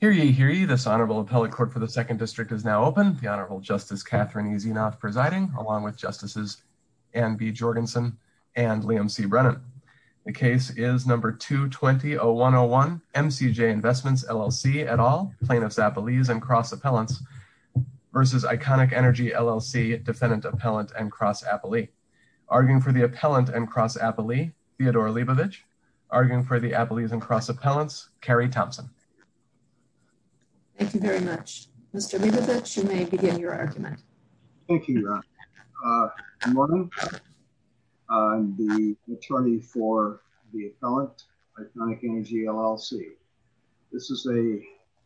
Hear ye, hear ye, this Honorable Appellate Court for the 2nd District is now open. The Honorable Justice Catherine E. Zienoth presiding along with Justices Anne B. Jorgensen and Liam C. Brennan. The case is number 220-101 MCJ Investments LLC et al. Plaintiffs Appellees and Cross Appellants versus Iconic Energy LLC Defendant Appellant and Cross Appellee. Arguing for the Appellant and Cross Appellee, Theodore Leibovitch. Arguing for the Appellees and Cross Appellants, Carrie Thompson. Thank you very much. Mr. Leibovitch, you may begin your argument. Thank you, Ron. Good morning. I'm the attorney for the Appellant, Iconic Energy LLC. This is a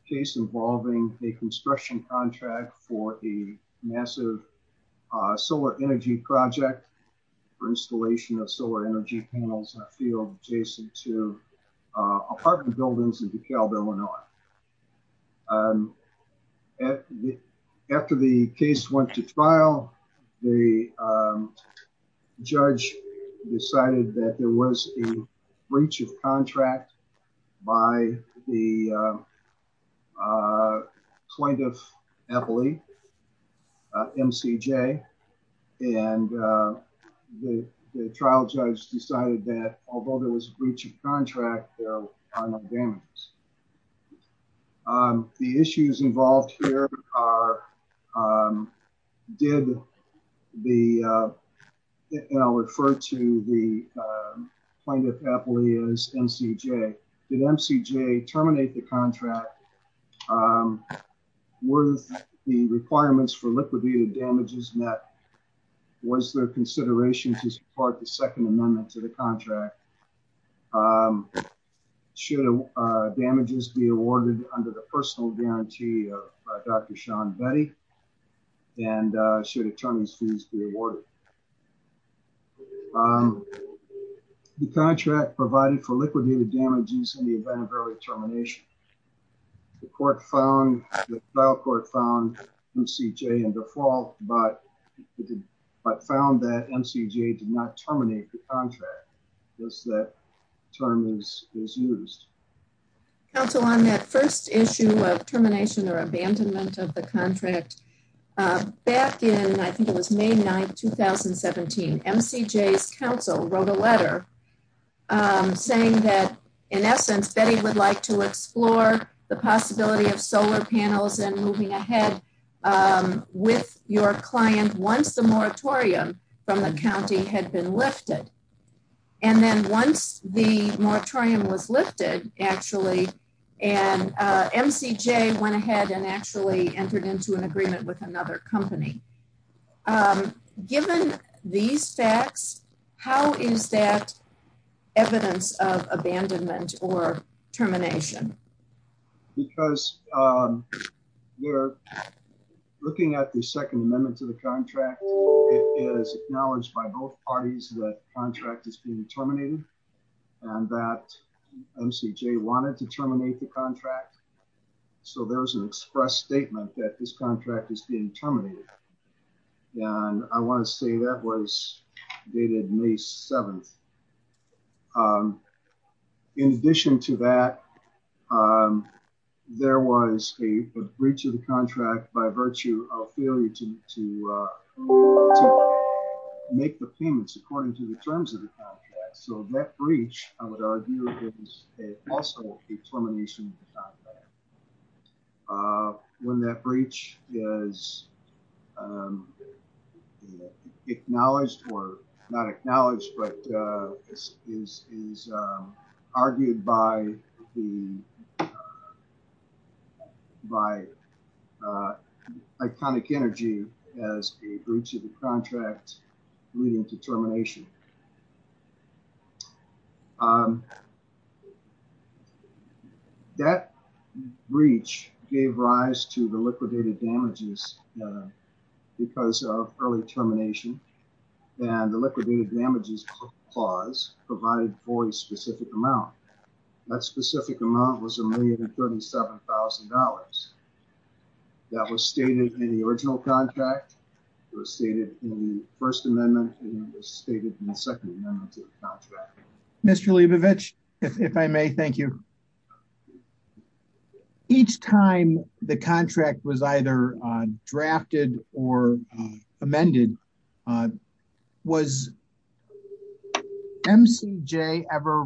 case involving a construction contract for a massive solar energy project for installation of solar energy panels in a field adjacent to apartment buildings in DeKalb, Illinois. After the case went to trial, the judge decided that there was a breach of contract by the Plaintiff Appellee, MCJ, and the trial judge decided that although there was a breach of contract, the issues involved here are, did the, and I'll refer to the Plaintiff Appellee as MCJ, did MCJ terminate the contract? Were the requirements for liquidated damages met? Was there consideration to support the second amendment to the contract? Should damages be awarded under the personal guarantee of Dr. Sean Betty, and should attorney's fees be awarded? The contract provided for liquidated damages in the event of early termination. The court found, the trial court found MCJ in default, but found that MCJ did not terminate the contract once that term is used. Council, on that first issue of termination or abandonment of the contract, back in, I think it was May 9th, 2017, MCJ's counsel wrote a letter saying that in essence, Betty would like to explore the possibility of solar panels and moving ahead with your client once the moratorium from the county had been lifted. And then once the moratorium was lifted, actually, and MCJ went ahead and actually entered into an agreement with another company. Given these facts, how is that evidence of abandonment or termination? Because we're looking at the second amendment to the contract. It is acknowledged by both parties that contract is being terminated and that MCJ wanted to terminate the contract. So there was an express statement that this contract is being terminated. And I want to say that was dated May 7th. In addition to that, there was a breach of the contract by virtue of failure to make the payments according to the terms of the contract. So that breach, I would argue, is also a termination of the contract. When that breach is acknowledged, or not acknowledged, but is argued by Iconic Energy as a breach of the contract leading to termination. That breach gave rise to the liquidated damages because of early termination and the liquidated damages clause provided for a specific amount. That specific amount was $1,037,000. That was stated in the original contract. It was stated in the first amendment and it was stated in the second amendment to the contract. Mr. Leibovich, if I may, thank you. Each time the contract was either drafted or amended, was MCJ ever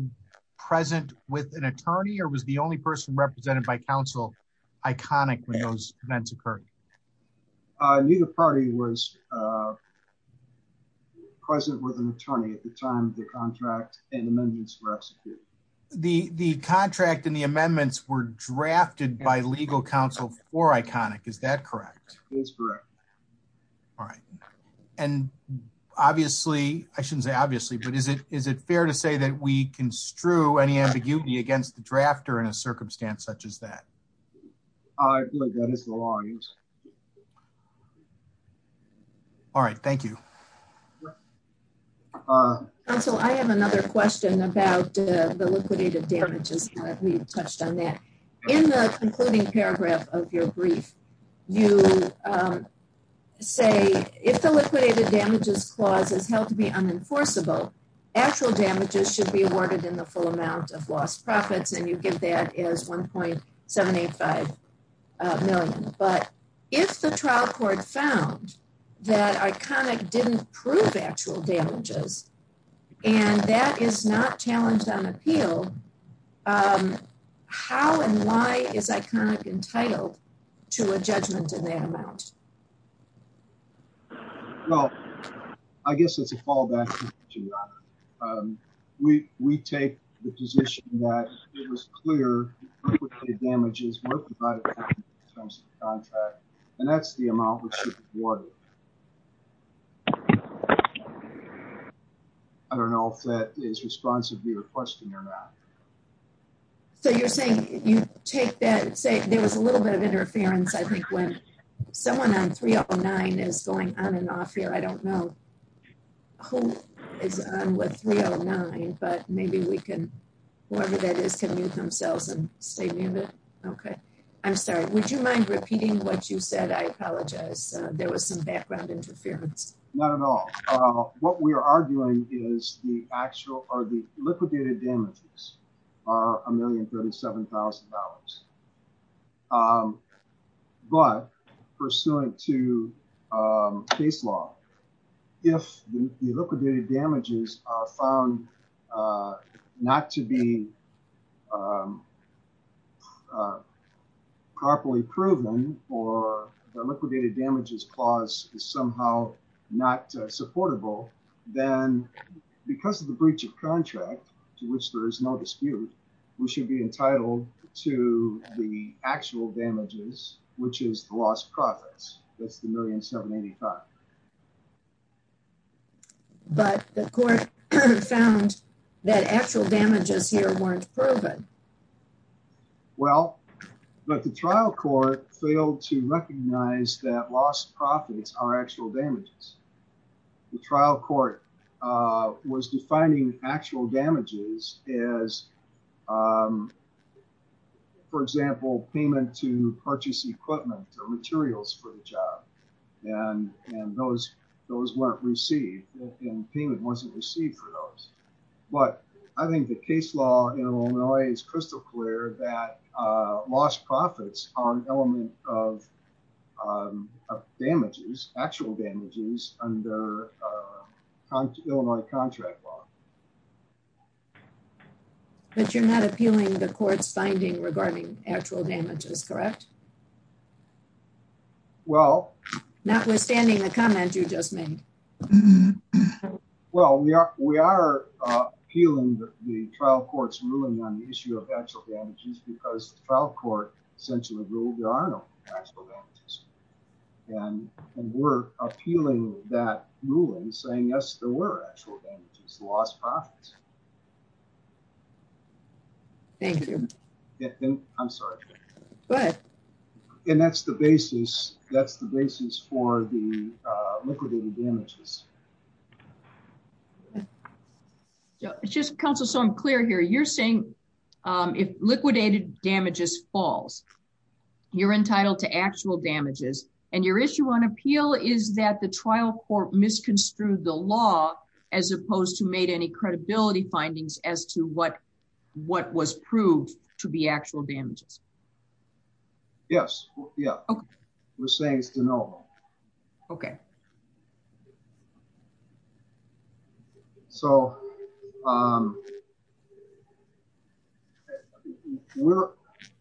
present with an attorney or was the only person represented by counsel Iconic when those events occurred? Neither party was present with an attorney at the time the contract and amendments were executed. The contract and the amendments were drafted by legal counsel for Iconic, is that correct? It's correct. All right. And obviously, I shouldn't say obviously, but is it fair to say that we construe any ambiguity against the drafter in a circumstance such as that? I believe that is the law in use. All right. Thank you. Counsel, I have another question about the liquidated damages. We've touched on that. In the concluding paragraph of your brief, you say, if the liquidated damages clause is held to be unenforceable, actual damages should be awarded in the full amount of lost profits and you give that as 1.785 million. But if the trial court found that Iconic didn't prove actual damages and that is not challenged on appeal, how and why is Iconic entitled to a judgment in that amount? Well, I guess it's a fallback. We take the position that it was clear liquidated damages were provided in terms of the contract and that's the amount which should be awarded. I don't know if that is responsive to your question or not. So, you're saying you take that and say there was a little bit of interference, I think, when someone on 309 is going on and off here. I don't know who is on with 309, but maybe we can, whoever that is, can mute themselves and stay muted. Okay. I'm sorry. Would you mind repeating what you said? I apologize. There was some background interference. Not at all. What we are arguing is are the liquidated damages are $1,037,000. But pursuant to case law, if the liquidated damages are found not to be properly proven or the liquidated damages clause is somehow not supportable, then because of the breach of contract, to which there is no dispute, we should be entitled to the actual damages, which is the lost profits. That's the $1,785,000. But the court found that actual damages here weren't proven. Well, but the trial court failed to recognize that lost profits are actual damages. The trial court was defining actual damages as, for example, payment to purchase equipment or materials for the job. And those weren't received and payment wasn't received for those. But I think the case law in Illinois is crystal clear that lost profits are an element of damages, actual damages. But you're not appealing the court's finding regarding actual damages, correct? Well, notwithstanding the comment you just made. Well, we are appealing the trial court's ruling on the issue of actual damages because the trial saying, yes, there were actual damages, lost profits. Thank you. I'm sorry. Go ahead. And that's the basis. That's the basis for the liquidated damages. It's just, counsel, so I'm clear here. You're saying if liquidated damages falls, you're entitled to actual damages. And your issue on appeal is that the trial court misconstrued the law as opposed to made any credibility findings as to what was proved to be actual damages. Yes. Yeah. Okay. We're saying it's to know. Okay. So,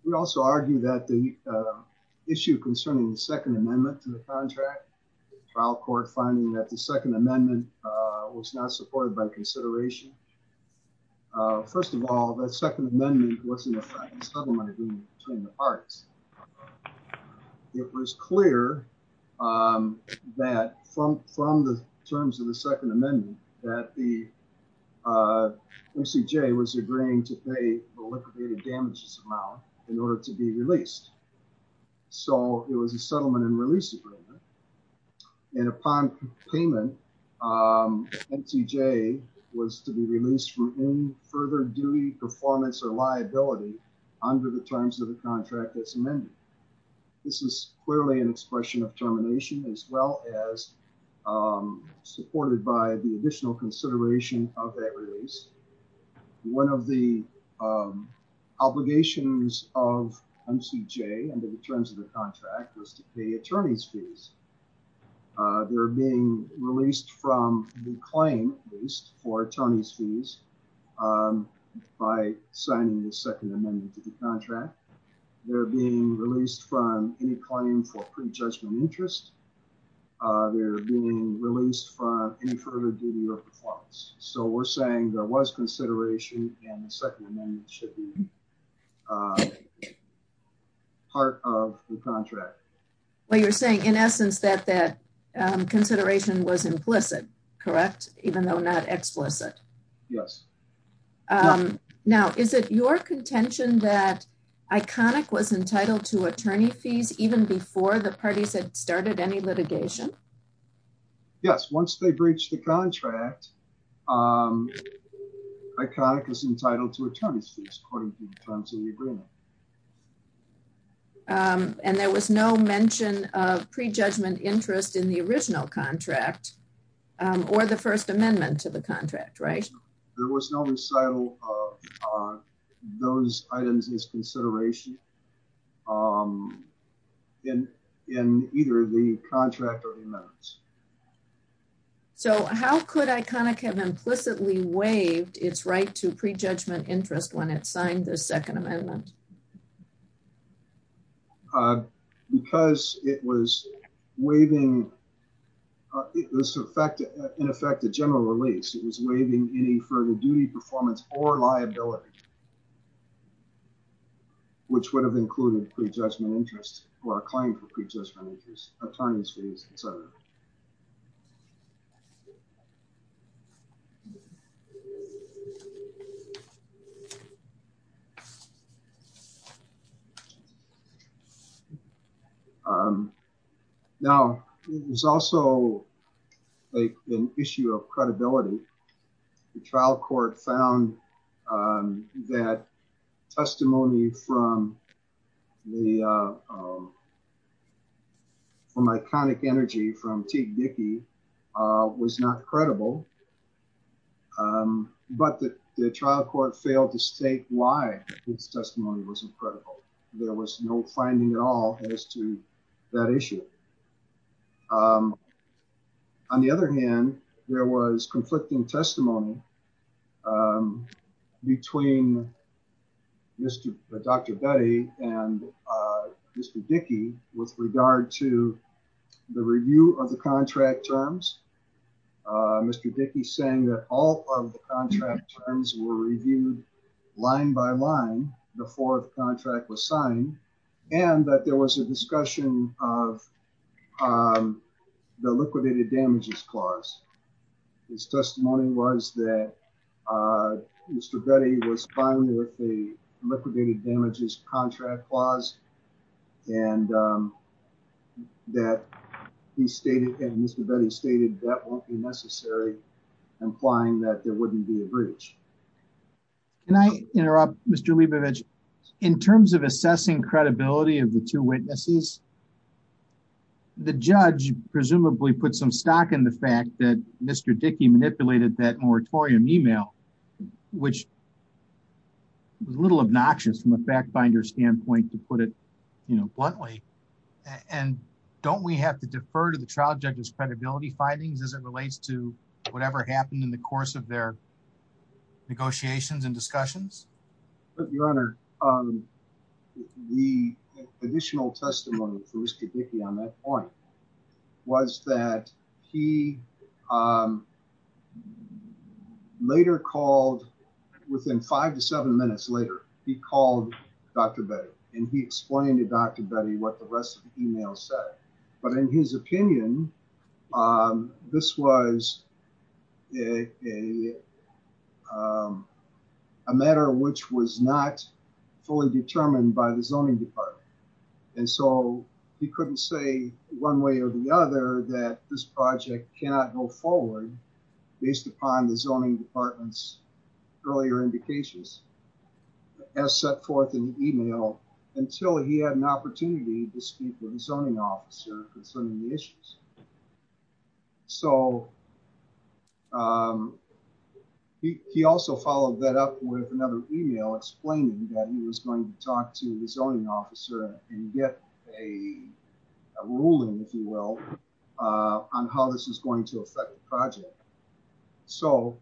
we also argue that the issue concerning the second amendment to the contract trial court finding that the second amendment was not supported by consideration. First of all, the second amendment was in the settlement agreement between the parts. It was clear that from the terms of the second amendment that the MCJ was agreeing to pay the liquidated damages amount in order to be released. So, it was a settlement and release agreement. And upon payment, MCJ was to be released from any further duty performance or liability under the terms of the contract that's amended. This is clearly an expression of termination as well as supported by the additional consideration of that release. One of the obligations of MCJ under the terms of the contract was to pay attorney's fees. They're being released from the claim at least for attorney's fees um by signing the second amendment to the contract. They're being released from any claim for pre-judgment interest. They're being released from any further duty or performance. So, we're saying there was consideration and the second amendment should be part of the contract. Well, you're saying in essence that that consideration was implicit, correct? Even though not explicit. Yes. Now, is it your contention that Iconic was entitled to attorney fees even before the parties had started any litigation? Yes. Once they breached the contract, Iconic was entitled to attorney's fees according to the terms of the agreement. And there was no mention of pre-judgment interest in the original contract or the first amendment to the contract, right? There was no recital of those items as consideration in either the contract or the amendments. So, how could Iconic have implicitly waived its right to pre-judgment interest when it signed the second amendment? Because it was waiving, in effect, a general release. It was waiving any further duty, performance, or liability which would have included pre-judgment interest or a claim for pre-judgment interest, attorney's fees, etc. Now, there's also like an issue of credibility. The trial court found that testimony from Iconic Energy from Teague Dickey was not credible. But the trial court failed to state why its testimony was not credible. There was no finding at all as to that issue. On the other hand, there was conflicting testimony between Dr. Betty and Mr. Dickey with regard to the review of the contract terms. Mr. Dickey saying that all of the contract terms were reviewed line by line before the contract was signed and that there was a discussion of the liquidated damages clause. His testimony was that Mr. Betty was fine with the liquidated damages contract clause and that he stated and Mr. Betty stated that won't be necessary Can I interrupt, Mr. Leibovich? In terms of assessing credibility of the two witnesses, the judge presumably put some stock in the fact that Mr. Dickey manipulated that moratorium email which was a little obnoxious from a fact finder standpoint to put it bluntly. And don't we have to defer to the trial judge's credibility findings as it relates to whatever happened in the course of their negotiations and discussions? Your Honor, the additional testimony for Mr. Dickey on that point was that he later called within five to seven minutes later, he called Dr. Betty and he explained to Dr. Betty what the rest of the email said. But in his opinion, this was a matter which was not fully determined by the zoning department. And so he couldn't say one way or the other that this project cannot go forward based upon the zoning department's earlier indications as set forth in the email until he had an opportunity to speak with the zoning officer concerning the issues. So he also followed that up with another email explaining that he was going to talk to the zoning officer and get a ruling, if you will, on how this is going to affect the project. So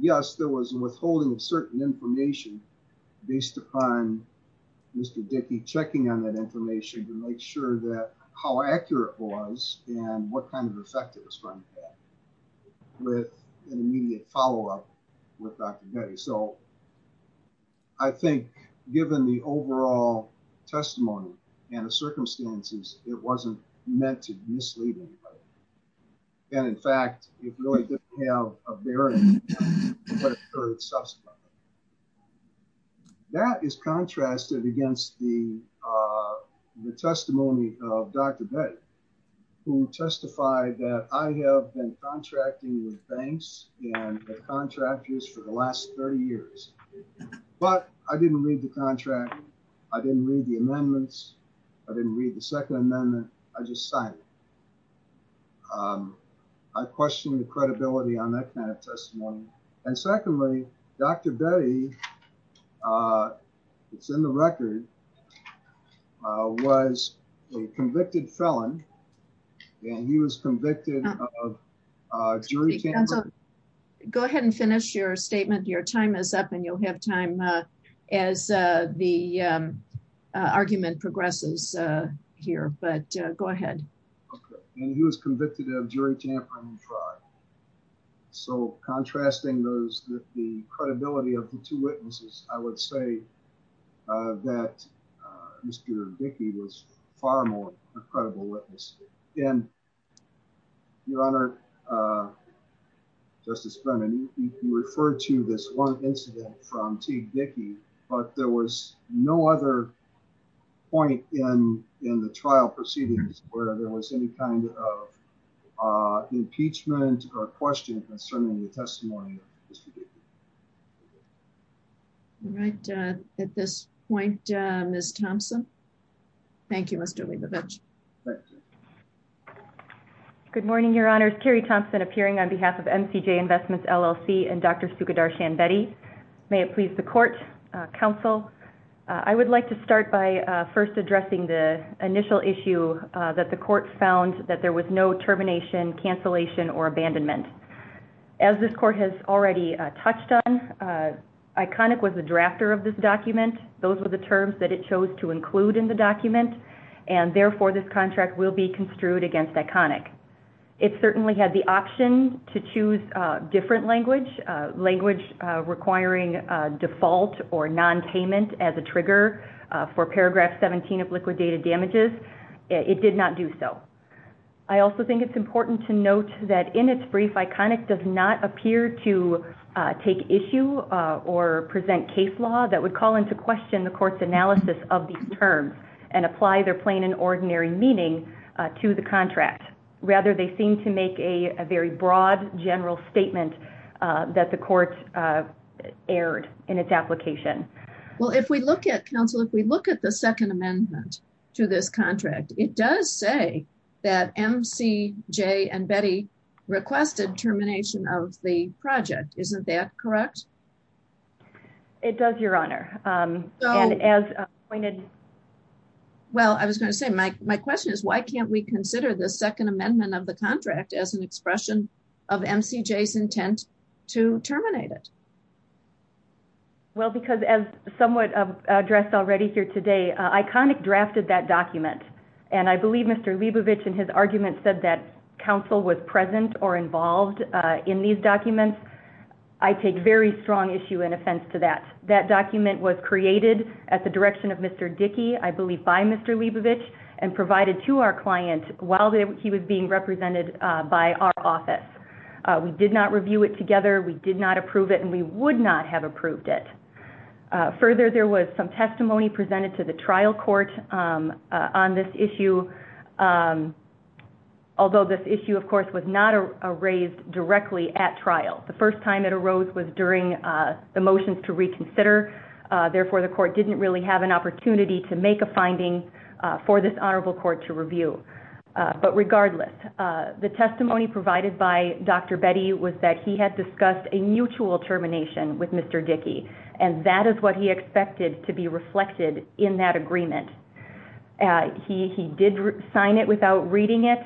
yes, there was a withholding of certain information based upon Mr. Dickey checking on that information to make sure that how accurate it was and what kind of effect it was going to have with an immediate follow-up with Dr. Betty. So I think given the overall testimony and the circumstances, it wasn't meant to mislead anybody. And in fact, it really didn't have a bearing on what occurred subsequently. That is contrasted against the testimony of Dr. Betty, who testified that I have been contracting with banks and their contractors for the last 30 years. But I didn't read the contract. I didn't read the amendments. I didn't read the second amendment. I just signed it. I question the credibility on that kind of testimony. And secondly, Dr. Betty, it's in the record, was a convicted felon. And he was convicted of jury tampering. Go ahead and finish your statement. Your time is up and you'll have time as the argument progresses here. But go ahead. And he was convicted of jury tampering. So contrasting those, the credibility of the two witnesses, I would say that Mr. Dickey was far more credible witness. And Your Honor, Justice Brennan, you referred to this one incident from T. Dickey, but there was no other point in the trial proceedings where there was any kind of impeachment or question concerning the testimony of Mr. Dickey. All right. At this point, Ms. Thompson. Thank you, Mr. Leibovich. Good morning, Your Honors. Carrie Thompson appearing on behalf of MCJ Investments, LLC and Dr. Sugadar Shanbetti. May it please the court, counsel. I would like to start by first addressing the initial issue that the court found that there was no termination, cancellation, or abandonment. As this court has already touched on, ICONIC was the drafter of this document. Those were the terms that it chose to include in the document. And therefore, this contract will be construed against ICONIC. It certainly had the option to choose different language. Language requiring default or non-payment as a trigger for paragraph 17 of liquidated damages. It did not do so. I also think it's important to note that in its brief, ICONIC does not appear to take issue or present case law that would call into question the court's analysis of these terms and apply their plain and ordinary meaning to the contract. Rather, they seem to make a very broad, general statement that the court aired in its application. Well, if we look at counsel, if we look at the second amendment to this contract, it does say that MCJ and Betty requested termination of the project. It does, Your Honor. And as pointed... Well, I was going to say, my question is, why can't we consider the second amendment of the contract as an expression of MCJ's intent to terminate it? Well, because as somewhat addressed already here today, ICONIC drafted that document. And I believe Mr. Leibovich in his argument said that counsel was present or involved in these documents. I take very strong issue and offense to that. That document was created at the direction of Mr. Dickey, I believe by Mr. Leibovich, and provided to our client while he was being represented by our office. We did not review it together. We did not approve it. And we would not have approved it. Further, there was some testimony presented to the trial court on this issue, although this issue, of course, was not raised directly at trial. The first time it arose was during the motions to reconsider. Therefore, the court didn't really have an opportunity to make a finding for this honorable court to review. But regardless, the testimony provided by Dr. Betty was that he had discussed a mutual termination with Mr. Dickey. And that is what he expected to be reflected in that agreement. He did sign it without reading it,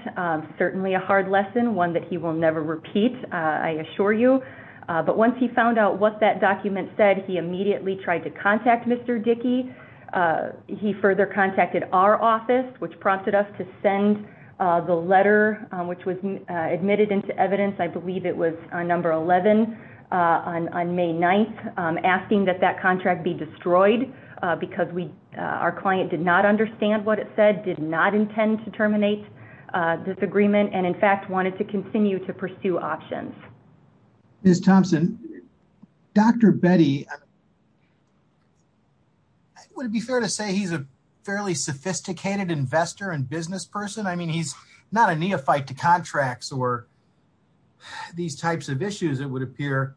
certainly a hard lesson, one that he will never repeat, I assure you. But once he found out what that document said, he immediately tried to contact Mr. Dickey. He further contacted our office, which prompted us to send the letter, which was admitted into evidence, I believe it was on number 11 on May 9th, asking that that contract be destroyed because our client did not understand what it said, did not intend to terminate this agreement, and, in fact, wanted to continue to pursue options. GOLDSTEIN. Ms. Thompson, Dr. Betty, would it be fair to say he's a fairly sophisticated investor and businessperson? I mean, he's not a neophyte to contracts or these types of issues, it would appear.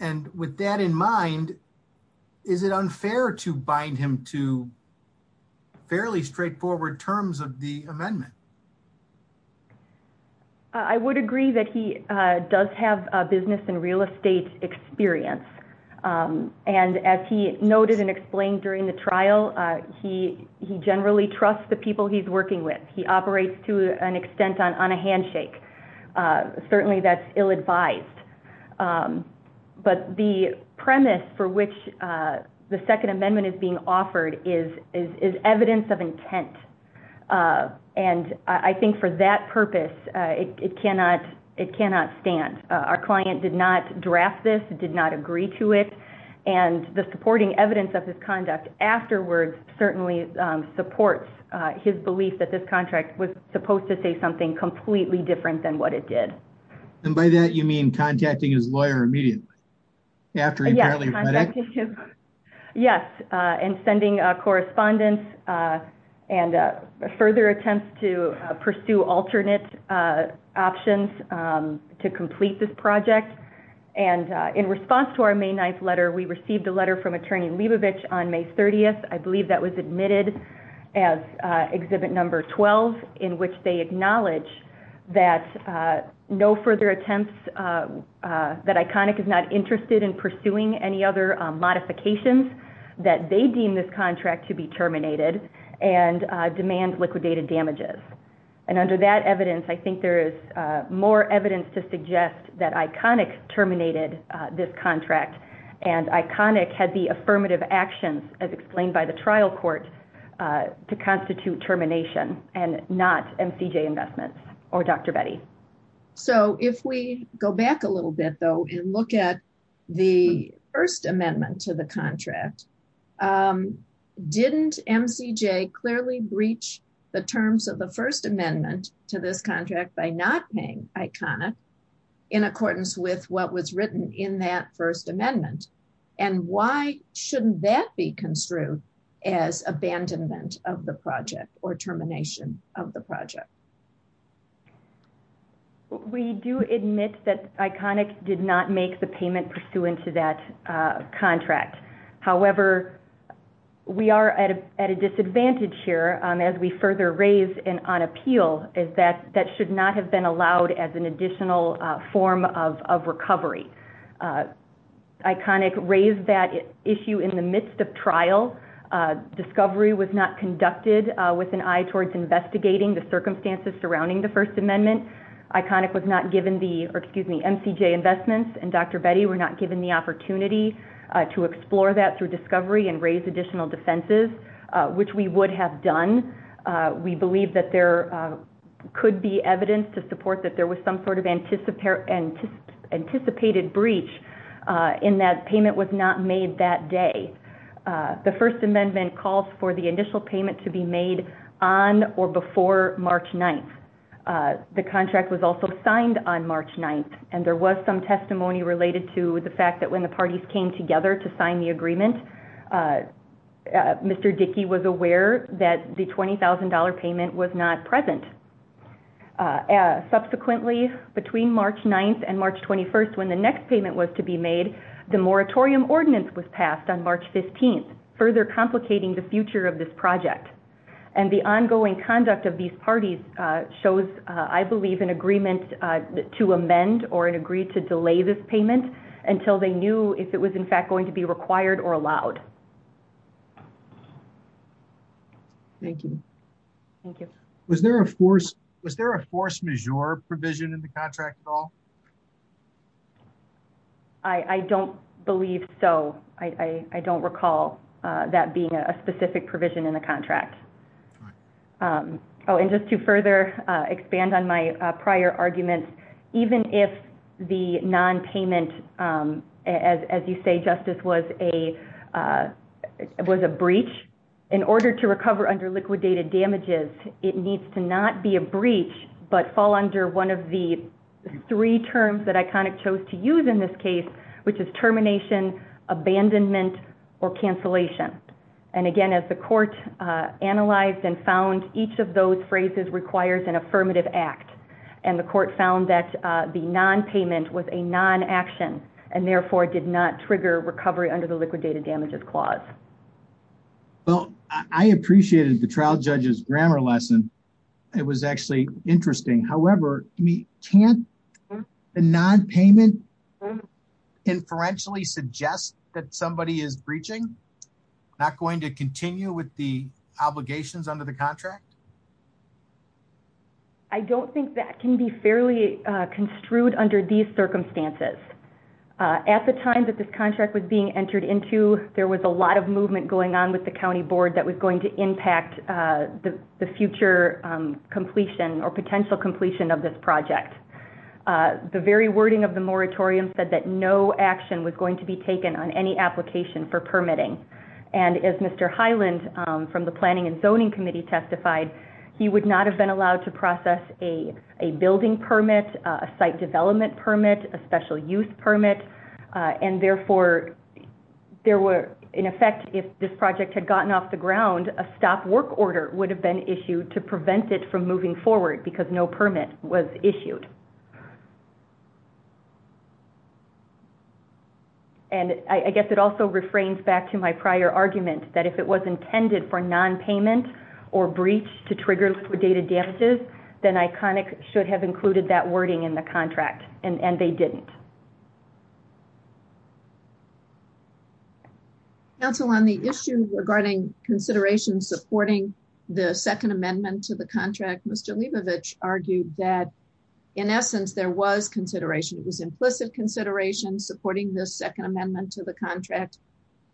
And with that in mind, is it unfair to bind him to fairly straightforward terms of the amendment? BETTY THOMPSON. I would agree that he does have a business and real estate experience. And as he noted and explained during the trial, he generally trusts the people he's working with. He operates, to an extent, on a handshake. Certainly, that's ill-advised. But the premise for which the Second Amendment is being offered is evidence of intent. And I think for that purpose, it cannot stand. Our client did not draft this, did not agree to it, and the supporting evidence of his conduct afterwards certainly supports his belief that this contract was supposed to say something completely different than what it did. GOLDSTEIN. And by that, you mean contacting his lawyer immediately, after he apparently fled it? BETTY THOMPSON. Yes, and sending correspondence and further attempts to pursue alternate options to complete this project. And in response to our May 9th letter, we received a letter from Attorney Leibovich on May 30th. I believe that was admitted as Exhibit Number 12, in which they acknowledge that no further attempts, that Iconic is not interested in pursuing any other modifications that they deem this contract to be terminated and demand liquidated damages. And under that evidence, I think there is more evidence to suggest that Iconic terminated this contract and Iconic had the affirmative actions, as explained by the trial court, to constitute termination and not MCJ Investments or Dr. Betty. So if we go back a little bit, though, and look at the first amendment to the contract, didn't MCJ clearly breach the terms of the first amendment to this contract by not paying Iconic in accordance with what was written in that first amendment? And why shouldn't that be construed as abandonment of the project or termination of the project? We do admit that Iconic did not make the payment pursuant to that contract. However, we are at a disadvantage here, as we further raise and on appeal, is that that should not have been allowed as an additional form of recovery. Iconic raised that issue in the midst of trial. Discovery was not conducted with an eye towards investigating the circumstances surrounding the first amendment. Iconic was not given the, or excuse me, MCJ Investments and Dr. Betty were not given the opportunity to explore that through discovery and raise additional defenses, which we would have done. We believe that there could be evidence to support that there was some sort of anticipated breach in that payment was not made that day. The first amendment calls for the initial payment to be made on or before March 9th. The contract was also signed on March 9th. And there was some testimony related to the fact that when the parties came together to sign the agreement, Mr. Dickey was aware that the $20,000 payment was not present. Subsequently, between March 9th and March 21st, when the next payment was to be made, the moratorium ordinance was passed on March 15th, further complicating the future of this project. And the ongoing conduct of these parties shows, I believe, an agreement to amend or an agreed to delay this payment until they knew if it was in fact going to be required or allowed. Thank you. Thank you. Was there a force, was there a force majeure provision in the contract at all? I don't believe so. I don't recall that being a specific provision in the contract. Oh, and just to further expand on my prior arguments, even if the non-payment, as you say, Justice, was a breach, in order to recover under liquidated damages, it needs to not be a breach but fall under one of the three terms that ICONIC chose to use in this case, which is termination, abandonment, or cancellation. And again, as the court analyzed and found each of those phrases requires an affirmative act. And the court found that the non-payment was a non-action and therefore did not trigger recovery under the liquidated damages clause. Well, I appreciated the trial judge's grammar lesson. It was actually interesting. However, can't the non-payment inferentially suggest that somebody is breaching, not going to continue with the obligations under the contract? I don't think that can be fairly construed under these circumstances. At the time that contract was being entered into, there was a lot of movement going on with the county board that was going to impact the future completion or potential completion of this project. The very wording of the moratorium said that no action was going to be taken on any application for permitting. And as Mr. Hyland from the Planning and Zoning Committee testified, he would not have been allowed to process a building permit, a site development permit, a special use permit. And therefore, there were, in effect, if this project had gotten off the ground, a stop work order would have been issued to prevent it from moving forward because no permit was issued. And I guess it also refrains back to my prior argument that if it was intended for non-payment or breach to trigger liquidated damages, then ICONIC should have included that in the contract, but they didn't. Council, on the issue regarding consideration supporting the second amendment to the contract, Mr. Leibovich argued that, in essence, there was consideration. It was implicit consideration supporting this second amendment to the contract,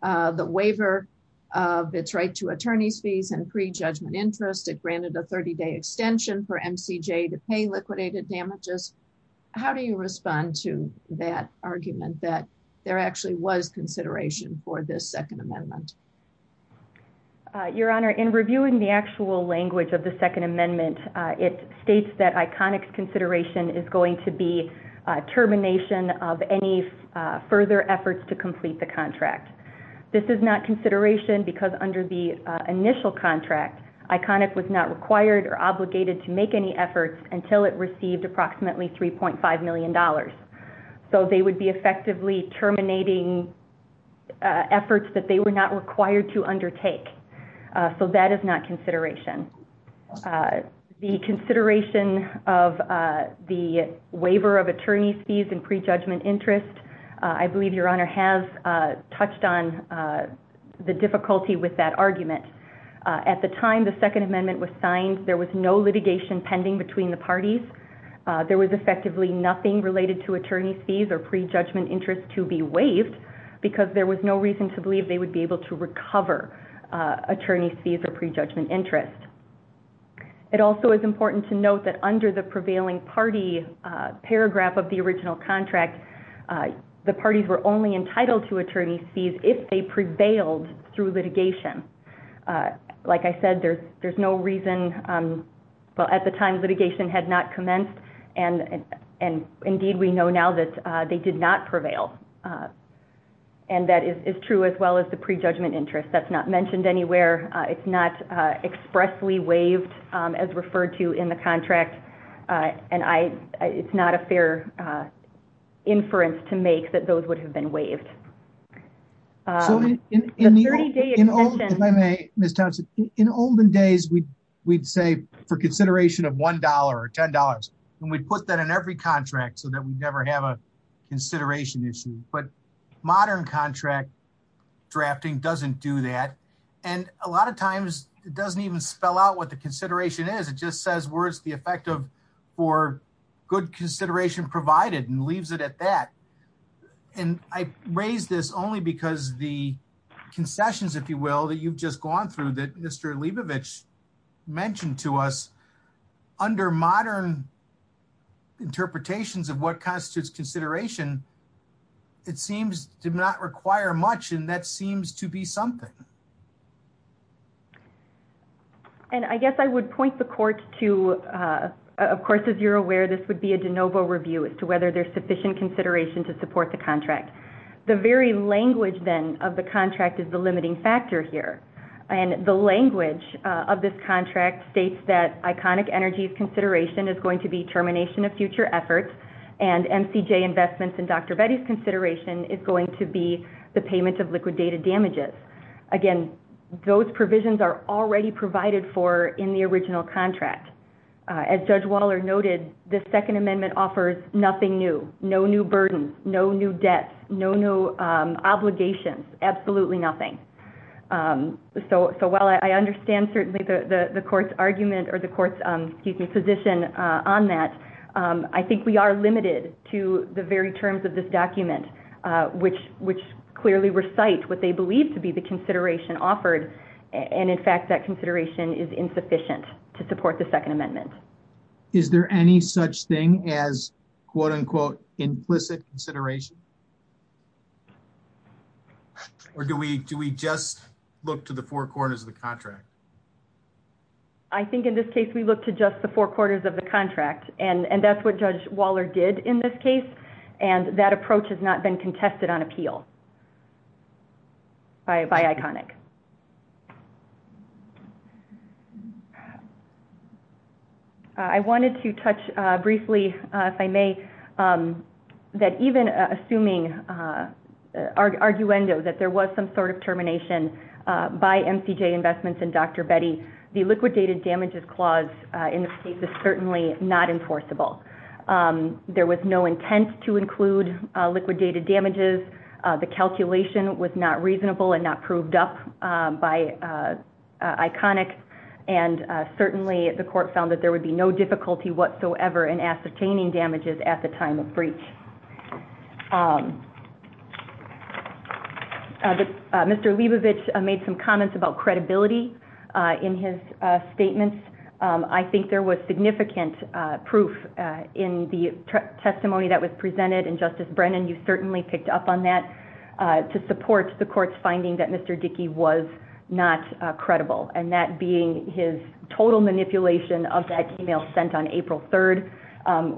the waiver of its right to attorney's fees and pre-judgment interest. It granted a 30-day extension for MCJ to pay liquidated damages. How do you respond to that argument that there actually was consideration for this second amendment? Your Honor, in reviewing the actual language of the second amendment, it states that ICONIC's consideration is going to be termination of any further efforts to complete the contract. This is not consideration because under the initial contract, ICONIC was not required or $3.5 million. So they would be effectively terminating efforts that they were not required to undertake. So that is not consideration. The consideration of the waiver of attorney's fees and pre-judgment interest, I believe Your Honor has touched on the difficulty with that argument. At the time the second amendment was signed, there was no litigation pending between the parties. There was effectively nothing related to attorney's fees or pre-judgment interest to be waived because there was no reason to believe they would be able to recover attorney's fees or pre-judgment interest. It also is important to note that under the prevailing party paragraph of the original contract, the parties were only entitled to attorney's fees if they prevailed through a pre-judgment interest. That is true as well as the pre-judgment interest. That is not mentioned anywhere. It is not expressly waived as referred to in the contract. It is not a fair inference to make that those would have been waived. Ms. Thompson, in olden days we would say for consideration of $1 or $10 and we would put that in every contract so we would never have a consideration issue. But modern contract drafting does not do that. A lot of times it does not even spell out what the consideration is. It just says where is the effective for good consideration provided and leaves it at that. And I raise this only because the concessions, if you will, that you have just gone through that Mr. Leibovich mentioned to us, under modern interpretations of what constitutes consideration, it seems to not require much and that seems to be something. And I guess I would point the court to, of course, as you are aware, this would be a consideration to support the contract. The very language then of the contract is the limiting factor here. And the language of this contract states that Iconic Energy's consideration is going to be termination of future efforts and MCJ Investments and Dr. Betty's consideration is going to be the payment of liquidated damages. Again, those provisions are already provided for in the original contract. As Judge Waller noted, the Second Amendment offers nothing new, no new burdens, no new debts, no new obligations, absolutely nothing. So while I understand certainly the court's argument or the court's position on that, I think we are limited to the very terms of this document, which clearly recite what they believe to be the consideration offered. And in fact, that consideration is insufficient to support the Second Amendment. Is there any such thing as, quote unquote, implicit consideration? Or do we just look to the four quarters of the contract? I think in this case, we look to just the four quarters of the contract. And that's what Judge Waller did in this case. And that approach has not been contested on appeal by Iconic. I wanted to touch briefly, if I may, that even assuming arguendo that there was some sort of termination by MCJ Investments and Dr. Betty, the liquidated damages clause in this case is certainly not enforceable. There was no intent to include liquidated damages. The calculation was not reasonable and not proved up by Iconic. And certainly, the court found that there would be no difficulty whatsoever in ascertaining damages at the time of breach. Mr. Leibovich made some comments about credibility in his statements. I think there was significant proof in the testimony that was presented. And Justice Brennan, you certainly picked up on that to support the court's finding that Mr. Dickey was not credible. And that being his total manipulation of that email sent on April 3rd,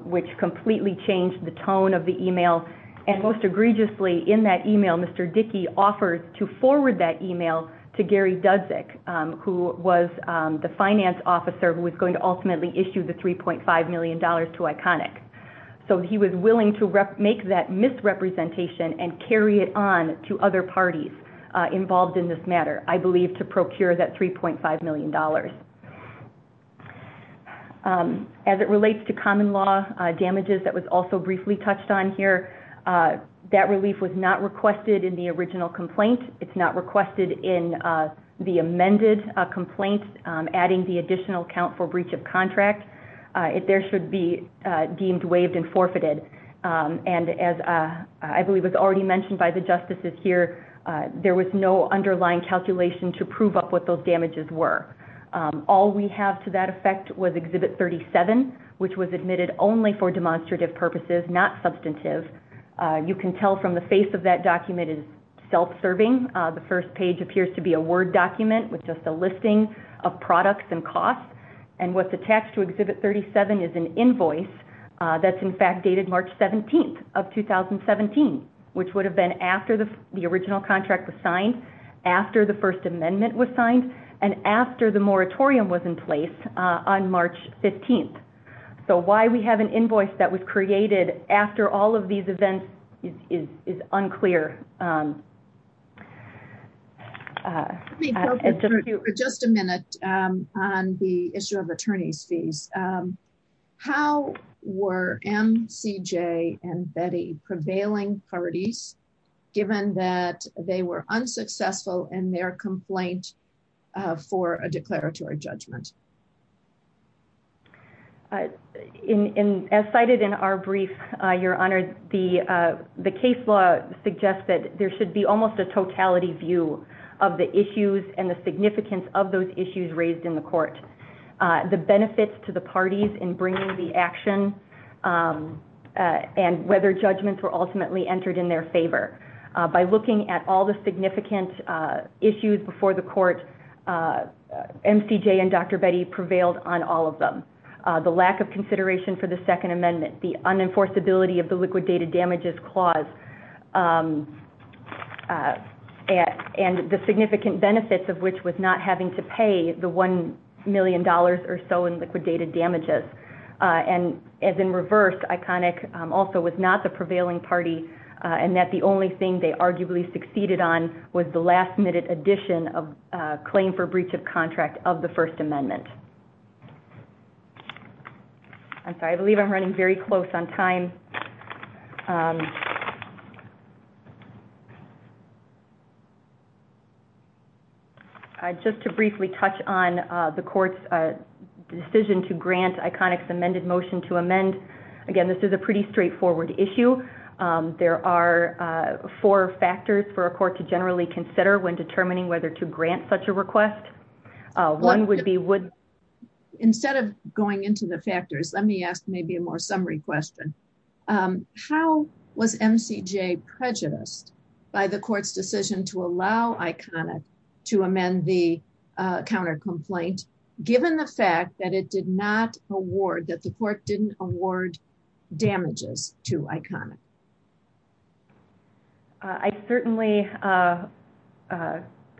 which completely changed the tone of the email. And most egregiously, in that email, Mr. Dickey offered to forward that email to Gary Dudzik, who was the finance officer who was going to ultimately issue the $3.5 million to Iconic. So he was willing to make that misrepresentation and carry it on to other parties involved in this matter, I believe, to procure that $3.5 million. As it relates to common law damages that was also briefly touched on here, that relief was not requested in the original complaint. It's not requested in the amended complaint, adding the additional account for breach of contract. There should be deemed waived and forfeited. And as I believe was already mentioned by the justices here, there was no underlying calculation to prove up what those damages were. All we have to that effect was Exhibit 37, which was admitted only for demonstrative purposes, not substantive. You can tell from the face of that document is self-serving. The first page appears to be a word document with just a listing of products and costs. And what's attached to Exhibit 37 is an invoice that's in fact dated March 17th of 2017, which would have been after the original contract was signed, after the First Amendment was signed, and after the moratorium was in place on March 15th. So why we have an invoice that was created after all of these events is unclear. Let me focus for just a minute on the issue of attorney's fees. How were MCJ and Betty prevailing parties given that they were unsuccessful in their complaint for a declaratory judgment? As cited in our brief, Your Honor, the case law suggests that there should be almost a totality view of the issues and the significance of those issues raised in the court. The benefits to the parties in bringing the action and whether judgments were ultimately entered in their favor. By looking at all the significant issues before the court, MCJ and Dr. Betty prevailed on all of them. The lack of consideration for the Second Amendment, the unenforceability of the liquidated damages clause, and the significant benefits of which was not having to pay the $1 million or so in liquidated damages. And as in reverse, also was not the prevailing party and that the only thing they arguably succeeded on was the last minute addition of claim for breach of contract of the First Amendment. I believe I'm running very close on time. Just to briefly touch on the court's decision to grant ICONIC's amended motion to amend again, this is a pretty straightforward issue. There are four factors for a court to generally consider when determining whether to grant such a request. One would be... Instead of going into the factors, let me ask maybe a more summary question. How was MCJ prejudiced by the court's decision to allow ICONIC to amend the counter-complaint given the fact that it did not award, that the court didn't award damages to ICONIC? I certainly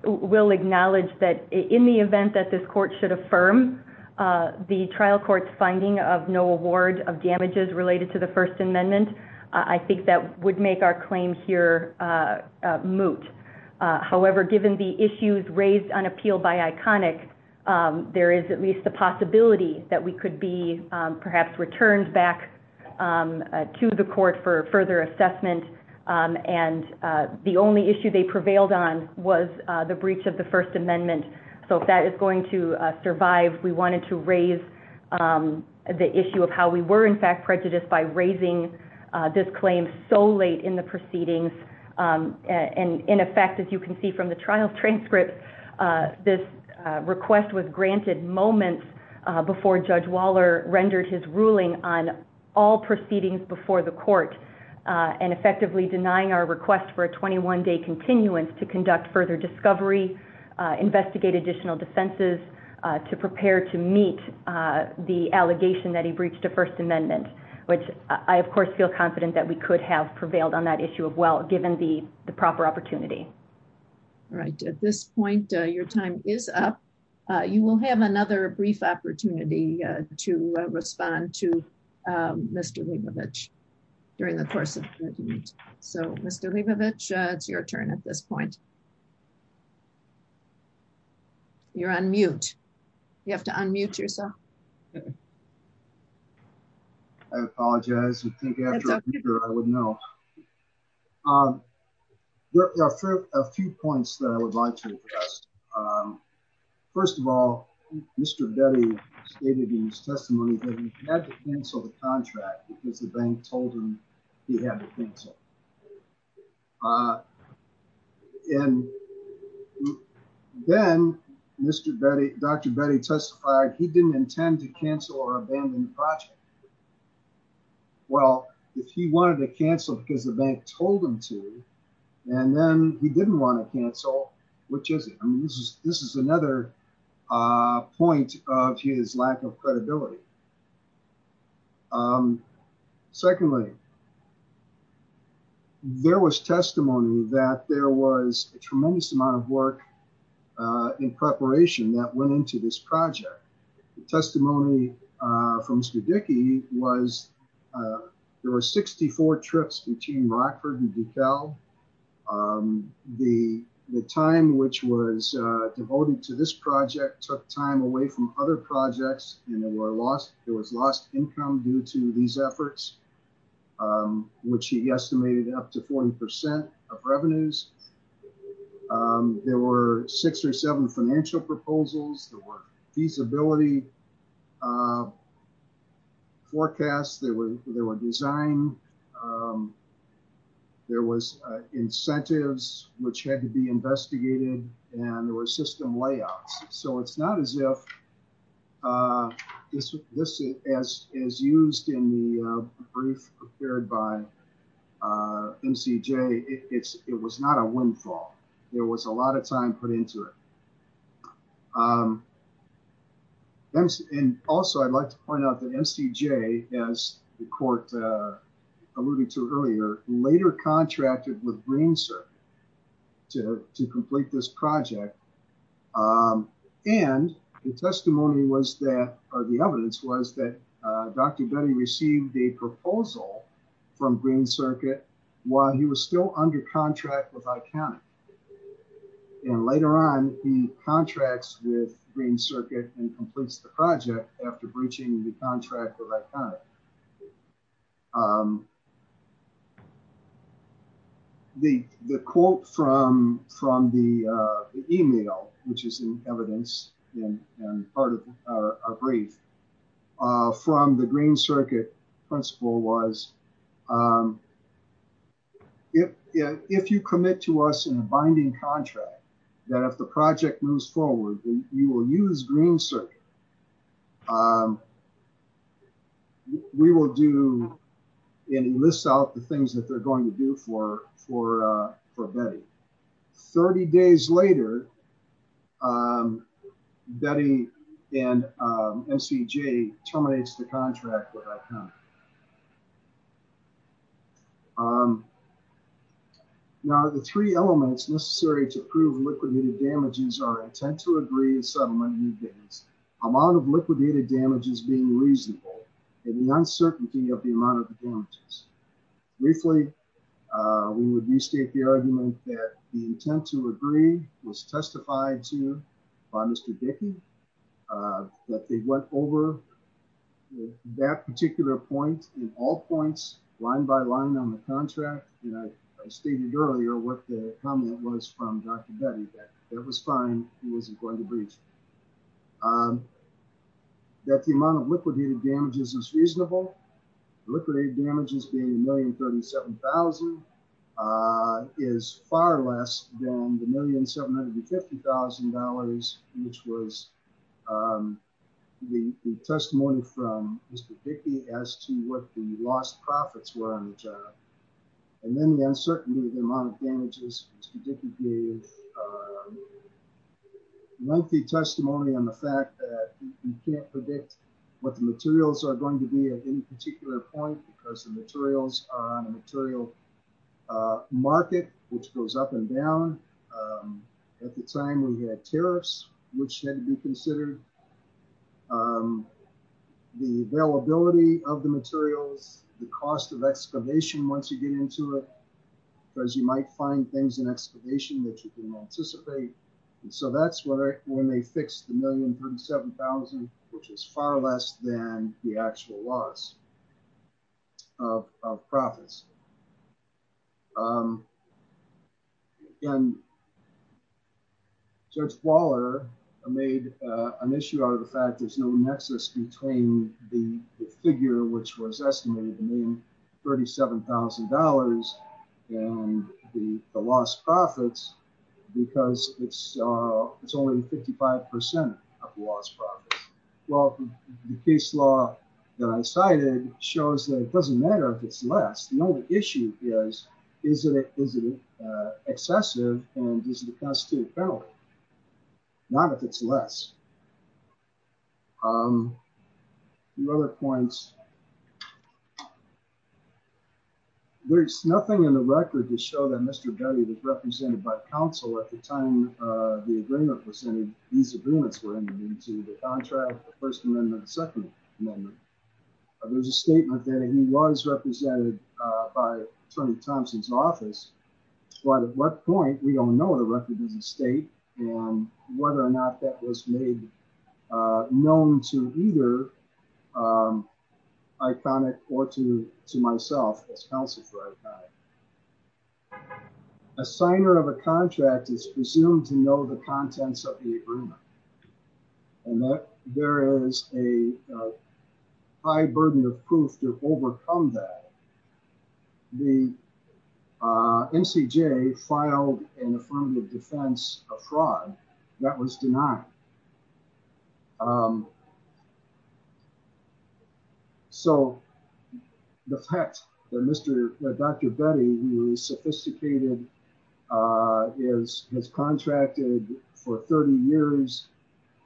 will acknowledge that in the event that this court should affirm the trial court's finding of no award of damages related to the First Amendment, I think that would make our claim here moot. However, given the issues raised on appeal by ICONIC, there is at least a possibility that we could be perhaps returned back to the court for further assessment. The only issue they prevailed on was the breach of the First Amendment. If that is going to survive, we wanted to raise the issue of how we were in fact prejudiced by raising this claim so late in the proceedings. In effect, as you can see from the trial transcript, this request was granted moments before Judge Waller rendered his ruling on all proceedings before the court and effectively denying our request for a 21-day continuance to conduct further discovery, investigate additional defenses, to prepare to meet the allegation that he breached the First Amendment, which I of course feel confident that we could have prevailed on that your time is up. You will have another brief opportunity to respond to Mr. Leibovitch during the course of the meeting. So Mr. Leibovitch, it's your turn at this point. You're on mute. You have to unmute yourself. I apologize. There are a few points that I would like to address. First of all, Mr. Betty stated in his testimony that he had to cancel the contract because the bank told him he had to cancel. And then Dr. Betty testified he didn't intend to cancel or abandon the project. Well, if he wanted to cancel because the bank told him to and then he didn't want to cancel, which is it? I mean, this is another point of his lack of credibility. Secondly, there was testimony that there was a tremendous amount of work in preparation that went into this project. The testimony from Mr. Dickey was there were 64 trips between Rockford and DeKalb. The time which was devoted to this project took time away from other projects and there was lost income due to these efforts, which he estimated up to 40% of revenues. There were six or seven financial proposals. There were feasibility forecasts. There were design. There was incentives which had to be investigated and there were system layouts. So, it's not as if this is used in the brief prepared by MCJ. It was not a windfall. There was a lot of time put into it. And also, I'd like to point out that MCJ, as the court alluded to earlier, later contracted with Green Circuit to complete this project and the testimony was that or the evidence was that Dr. Betty received a proposal from Green Circuit while he was still under contract with Iconic. And later on, he contracts with Green Circuit and completes the project after breaching the contract with Iconic. The quote from the email, which is in evidence in part of our brief, from the Green Circuit principal was, if you commit to us in a binding contract that if the project moves forward, you will use Green Circuit. We will do and list out the things that they're going to do for Betty. 30 days later, Betty and MCJ terminates the contract with Iconic. Now, the three elements necessary to prove liquidated damages are intent to agree and settlement of new damage, amount of liquidated damages being reasonable and the uncertainty of the amount of the damages. Briefly, we would restate the argument that the intent to agree was testified to by Mr. Dickey, that they went over that particular point in all points, line by line on the contract. And I stated earlier what the comment was from Dr. Betty, that it was fine, he wasn't going to breach. That the amount of liquidated damages is reasonable, liquidated damages being $1,037,000 is far less than the $1,750,000, which was the testimony from Mr. Dickey as to what the lost profits were on the job. And then the uncertainty of the amount of damages, Mr. Dickey gave lengthy testimony on the fact that you can't predict what the materials are going to be at any particular point because the materials on a material market, which goes up and down, at the time we had tariffs, which had to be considered. The availability of the materials, the cost of excavation, once you get into it, because you might find things in excavation that you can anticipate. And so that's when they fixed the $1,037,000, which was far less than the actual loss of profits. And Judge Waller made an issue out of the fact there's no nexus between the figure which was estimated to be $1,037,000 and the lost profits, because it's only 55% of the lost profits. Well, the case law that I cited shows that it doesn't matter if it's less, the only issue is, is it excessive and is it a constitutive penalty? Not if it's less. The other points, there's nothing in the record to show that Mr. Dickey was represented by counsel at the time the agreement was in. These agreements were in the contract, the First Amendment, the Second Amendment. There's a statement that he was represented by Attorney Thompson's office, but at what point, we don't know the record as a state and whether or not that was made known to either Iconic or to myself as counsel for Iconic. A signer of a contract is presumed to know the contents of the agreement and that there is a high burden of proof to overcome that. The NCJ filed an affirmative defense of fraud that was denied. So the fact that Dr. Betty, who is sophisticated, has contracted for 30 years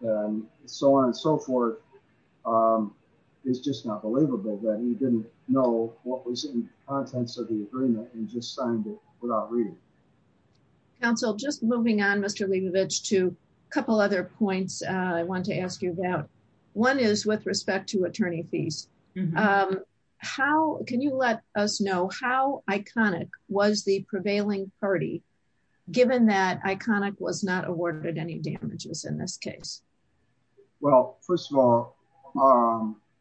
and so on and so forth, it's just not believable that he didn't know what was in the contents of the agreement and just signed it without reading. Counsel, just moving on, Mr. Leibovich, to a couple other points I want to ask you about. One is with respect to attorney fees. Can you let us know how Iconic was the prevailing party, given that Iconic was not awarded any damages in this case? Well, first of all,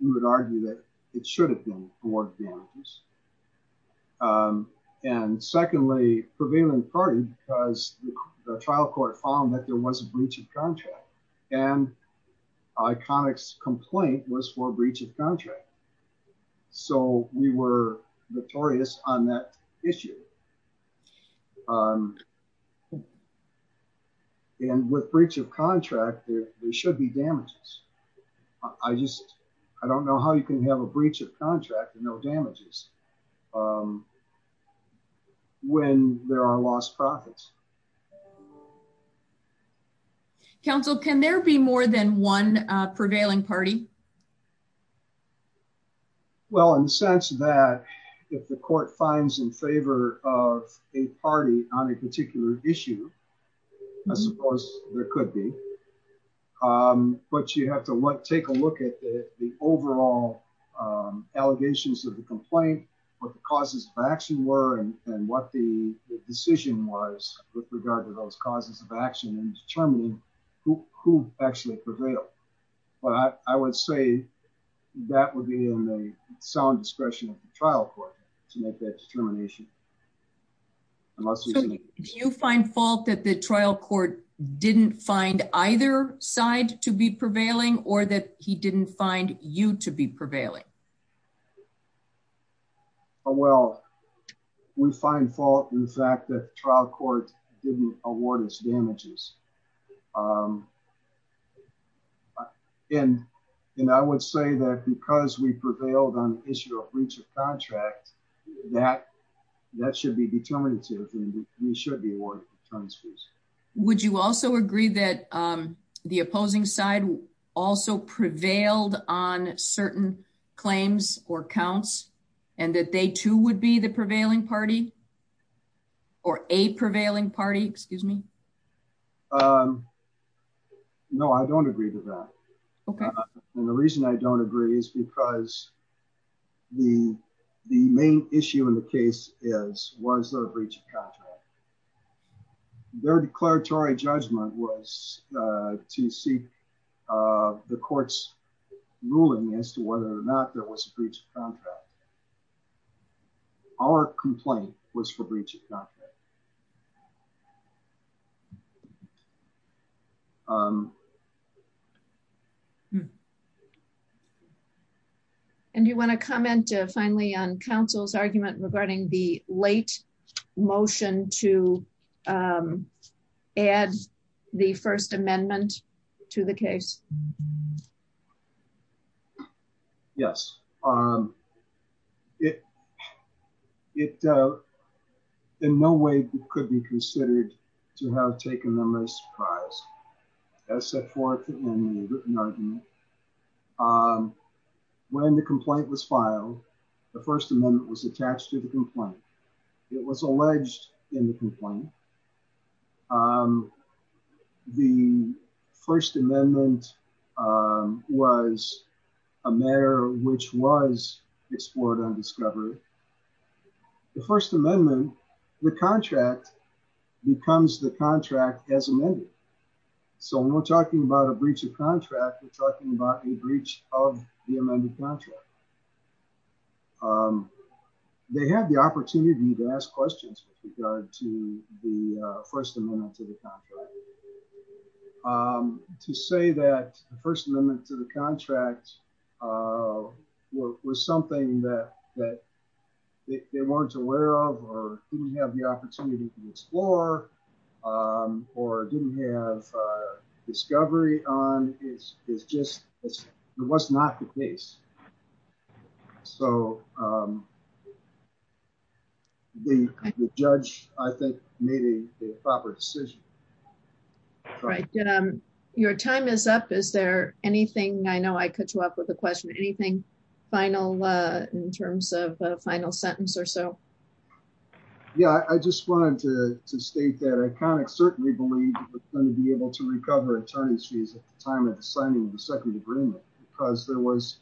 we would argue that it should have been awarded damages. And secondly, prevailing party, because the trial court found that there was a breach of contract and Iconic's complaint was for a breach of contract. So we were notorious on that issue. And with breach of contract, there should be damages. I just, I don't know how you can have a breach of contract and no damages. Um, when there are lost profits. Counsel, can there be more than one prevailing party? Well, in the sense that if the court finds in favor of a party on a particular issue, I suppose there could be. Um, but you have to take a look at the overall allegations of the complaint, what the causes of action were and what the decision was with regard to those causes of action and determining who actually prevailed. But I would say that would be in the sound discretion of the trial court to make that determination. Unless you find fault that the trial court didn't find either side to be prevailing or that he didn't find you to be prevailing. Oh, well, we find fault in the fact that trial court didn't award us damages. And, and I would say that because we prevailed on the issue of breach of contract, that, that should be determinative. Would you also agree that, um, the opposing side also prevailed on certain claims or counts and that they too would be the prevailing party or a prevailing party? Excuse me. Um, no, I don't agree with that. And the reason I don't agree is because the, the main issue in the case is, was there a breach of contract? Their declaratory judgment was, uh, to seek, uh, the court's ruling as to whether or not there was a breach of contract. Um, And do you want to comment finally on counsel's argument regarding the late motion to, um, add the first amendment to the case? Yes. Um, it, it, uh, in no way could be considered to have taken them as surprised as set forth in the written argument. Um, when the complaint was filed, the first amendment was attached to the complaint. It was alleged in the complaint. Um, the first amendment, um, was a matter which was explored on discovery. The first amendment, the contract becomes the contract as amended. So when we're talking about a breach of contract, we're talking about a breach of the amended contract. Um, they had the opportunity to ask questions with regard to the, uh, first amendment to the contract. Um, to say that the first amendment to the contract, uh, was something that, that they weren't aware of, or didn't have the opportunity to explore, um, or didn't have, uh, discovery on is, is just, it was not the case. So, um, the judge, I think made a proper decision. Right. Um, your time is up. Is there anything, I know I could show up with a question, anything final, uh, in terms of a final sentence or so? Yeah, I just wanted to, to state that ICONIC certainly believed it was going to be able to recover attorneys fees at the time of the signing of the second agreement, because there was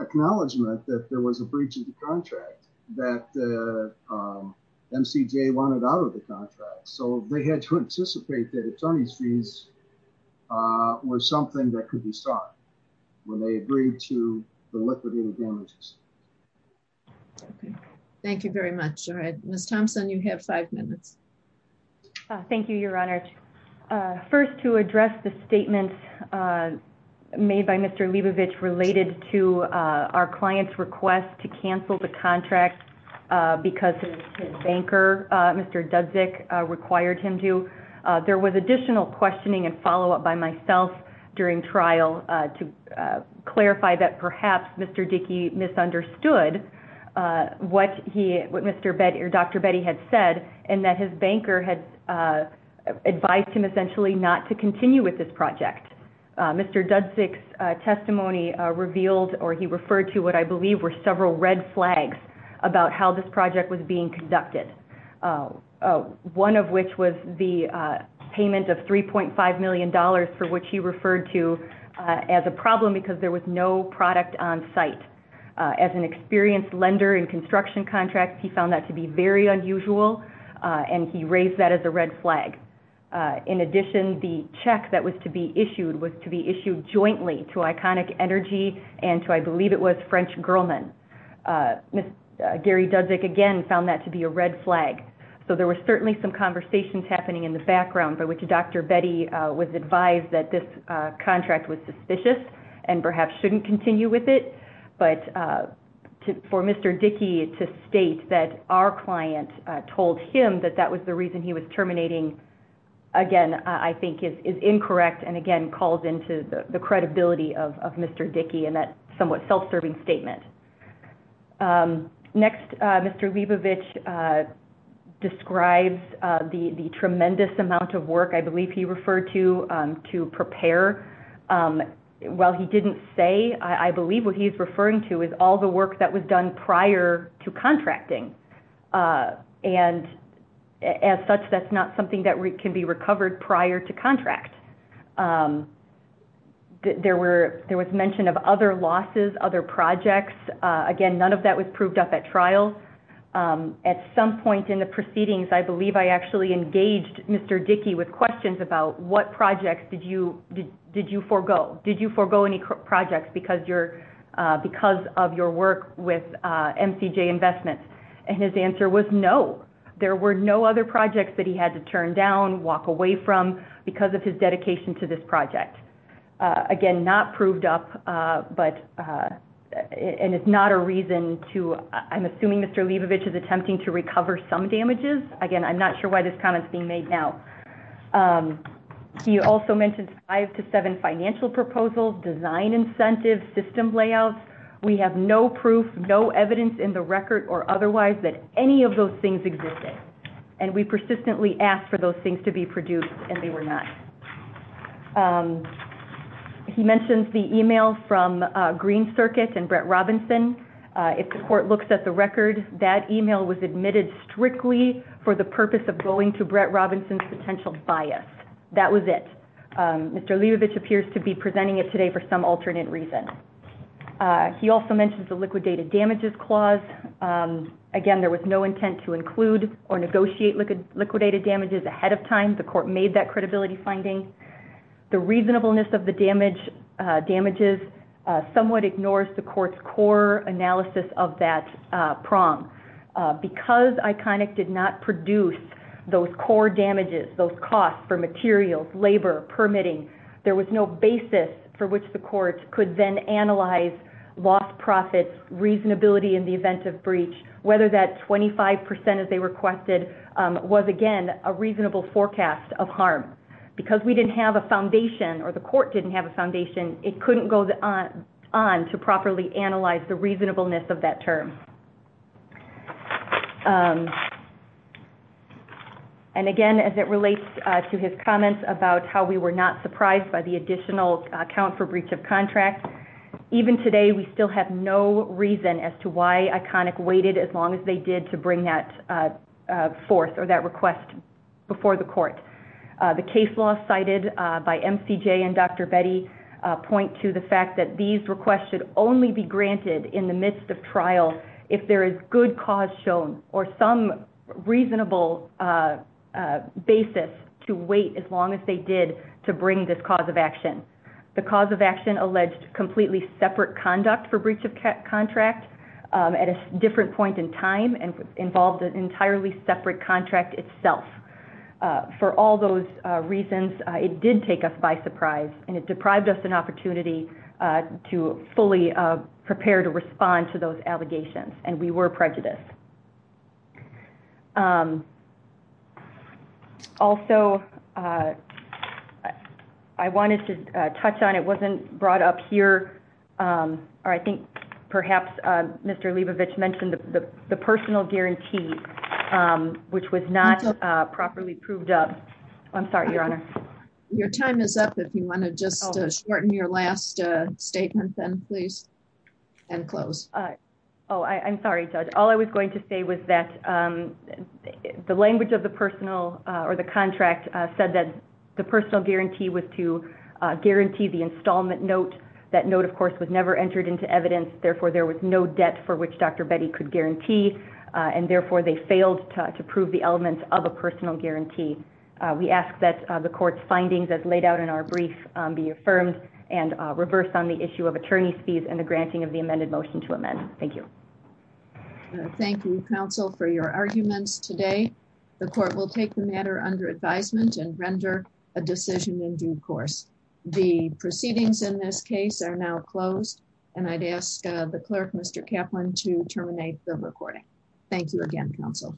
acknowledgement that there was a breach of the contract that, uh, um, MCJ wanted out of the contract. So they had to anticipate that attorney's fees, uh, were something that could be sought when they agreed to the liquidated damages. Okay. Thank you very much. All right. Ms. Thompson, you have five minutes. Uh, thank you, your honor. Uh, first to address the statement, uh, made by Mr. Leibovich related to, uh, our client's request to cancel the contract, uh, because his banker, uh, Mr. Dudzik, uh, required him to, uh, there was additional questioning and follow-up by myself during trial, uh, to, uh, clarify that perhaps Mr. Dickey misunderstood, uh, what he, what Mr. Betty or Dr. Betty had said, and that his banker had, uh, advised him essentially not to continue with this project. Uh, Mr. Dudzik's, uh, testimony, uh, revealed, or he referred to what I believe were several red flags about how this project was being conducted. Uh, uh, one of which was the, uh, payment of $3.5 million for which he referred to, uh, as a problem because there was no product on site. Uh, as an experienced lender in construction contracts, he found that to be very unusual, uh, and he raised that as a red flag. Uh, in addition, the check that was to be issued was to be issued jointly to Iconic Energy and to, I believe it was French Girlman. Uh, uh, Gary Dudzik again found that to be a red flag. So there was certainly some conversations happening in the background by which Dr. Betty, uh, was advised that this, uh, contract was suspicious and perhaps shouldn't continue with it. But, uh, for Mr. Dickey to state that our client, uh, told him that that was the reason he was terminating, again, I think is, is incorrect and again calls into the, the credibility of, of Mr. Dickey and that somewhat self-serving statement. Um, next, uh, Mr. Leibovich, uh, describes, uh, the, the tremendous amount of work I believe he referred to, um, to prepare. Um, while he didn't say, I, I believe what he's prior to contracting, uh, and as such, that's not something that can be recovered prior to contract. Um, there were, there was mention of other losses, other projects. Uh, again, none of that was proved up at trial. Um, at some point in the proceedings, I believe I actually engaged Mr. Dickey with questions about what projects did you, did you forego? Did you forego any projects because you're, uh, because of your work with, uh, MCJ investments? And his answer was no, there were no other projects that he had to turn down, walk away from because of his dedication to this project. Again, not proved up, uh, but, uh, and it's not a reason to, I'm assuming Mr. Leibovich is attempting to recover some damages. Again, I'm not sure why this comment's being made now. Um, he also mentioned five to seven financial proposals, design incentives, system layouts. We have no proof, no evidence in the record or otherwise that any of those things existed. And we persistently asked for those things to be produced and they were not. Um, he mentions the email from, uh, Green Circuit and Brett Robinson. Uh, if the court looks at the bias, that was it. Um, Mr. Leibovich appears to be presenting it today for some alternate reason. Uh, he also mentions the liquidated damages clause. Um, again, there was no intent to include or negotiate liquid, liquidated damages ahead of time. The court made that credibility finding. The reasonableness of the damage, uh, damages, uh, somewhat ignores the court's core analysis of that, uh, prong, uh, because ICONIC did not produce those core damages, those costs for materials, labor permitting, there was no basis for which the court could then analyze lost profits, reasonability in the event of breach, whether that 25%, as they requested, um, was again, a reasonable forecast of harm because we didn't have a foundation or the court didn't have a foundation. It couldn't go on to properly analyze the reasonableness of that term. Um, and again, as it relates, uh, to his comments about how we were not surprised by the additional account for breach of contract, even today, we still have no reason as to why ICONIC waited as long as they did to bring that, uh, uh, forth or that request before the court. Uh, the case law cited, uh, by MCJ and Dr. Betty, uh, point to the fact that these requests should only be granted in the midst of trial if there is good cause shown or some reasonable, uh, uh, basis to wait as long as they did to bring this cause of action. The cause of action alleged completely separate conduct for breach of contract, um, at a different point in time and involved an entirely separate contract itself. Uh, for all those, uh, reasons, uh, it did take us by surprise and it deprived us an opportunity, uh, to fully, uh, prepare to respond to those allegations and we were prejudiced. Um, also, uh, I wanted to touch on, it wasn't brought up here. Um, or I think perhaps, uh, Mr. Leibovich mentioned the, the, the personal guarantee, um, which was not, uh, properly proved up. I'm sorry, your honor. Your time is up. If you want to just, uh, shorten your last, uh, statement then please and close. Oh, I I'm sorry, judge. All I was going to say was that, um, the language of the personal, uh, or the contract, uh, said that the personal guarantee was to, uh, guarantee the installment note. That note of course was never entered into evidence. Therefore, there was no debt for which Dr. Betty could guarantee. Uh, and therefore they failed to prove the elements of a personal guarantee. Uh, we ask that the court's findings as laid out in our brief, um, be affirmed and, uh, reversed on the issue of attorney's fees and the granting of the amended motion to amend. Thank you. Thank you counsel for your arguments today. The court will take the matter under advisement and render a decision in due course. The proceedings in this case are now closed and I'd ask, uh, the clerk, Mr. Kaplan to terminate the recording. Thank you again, counsel.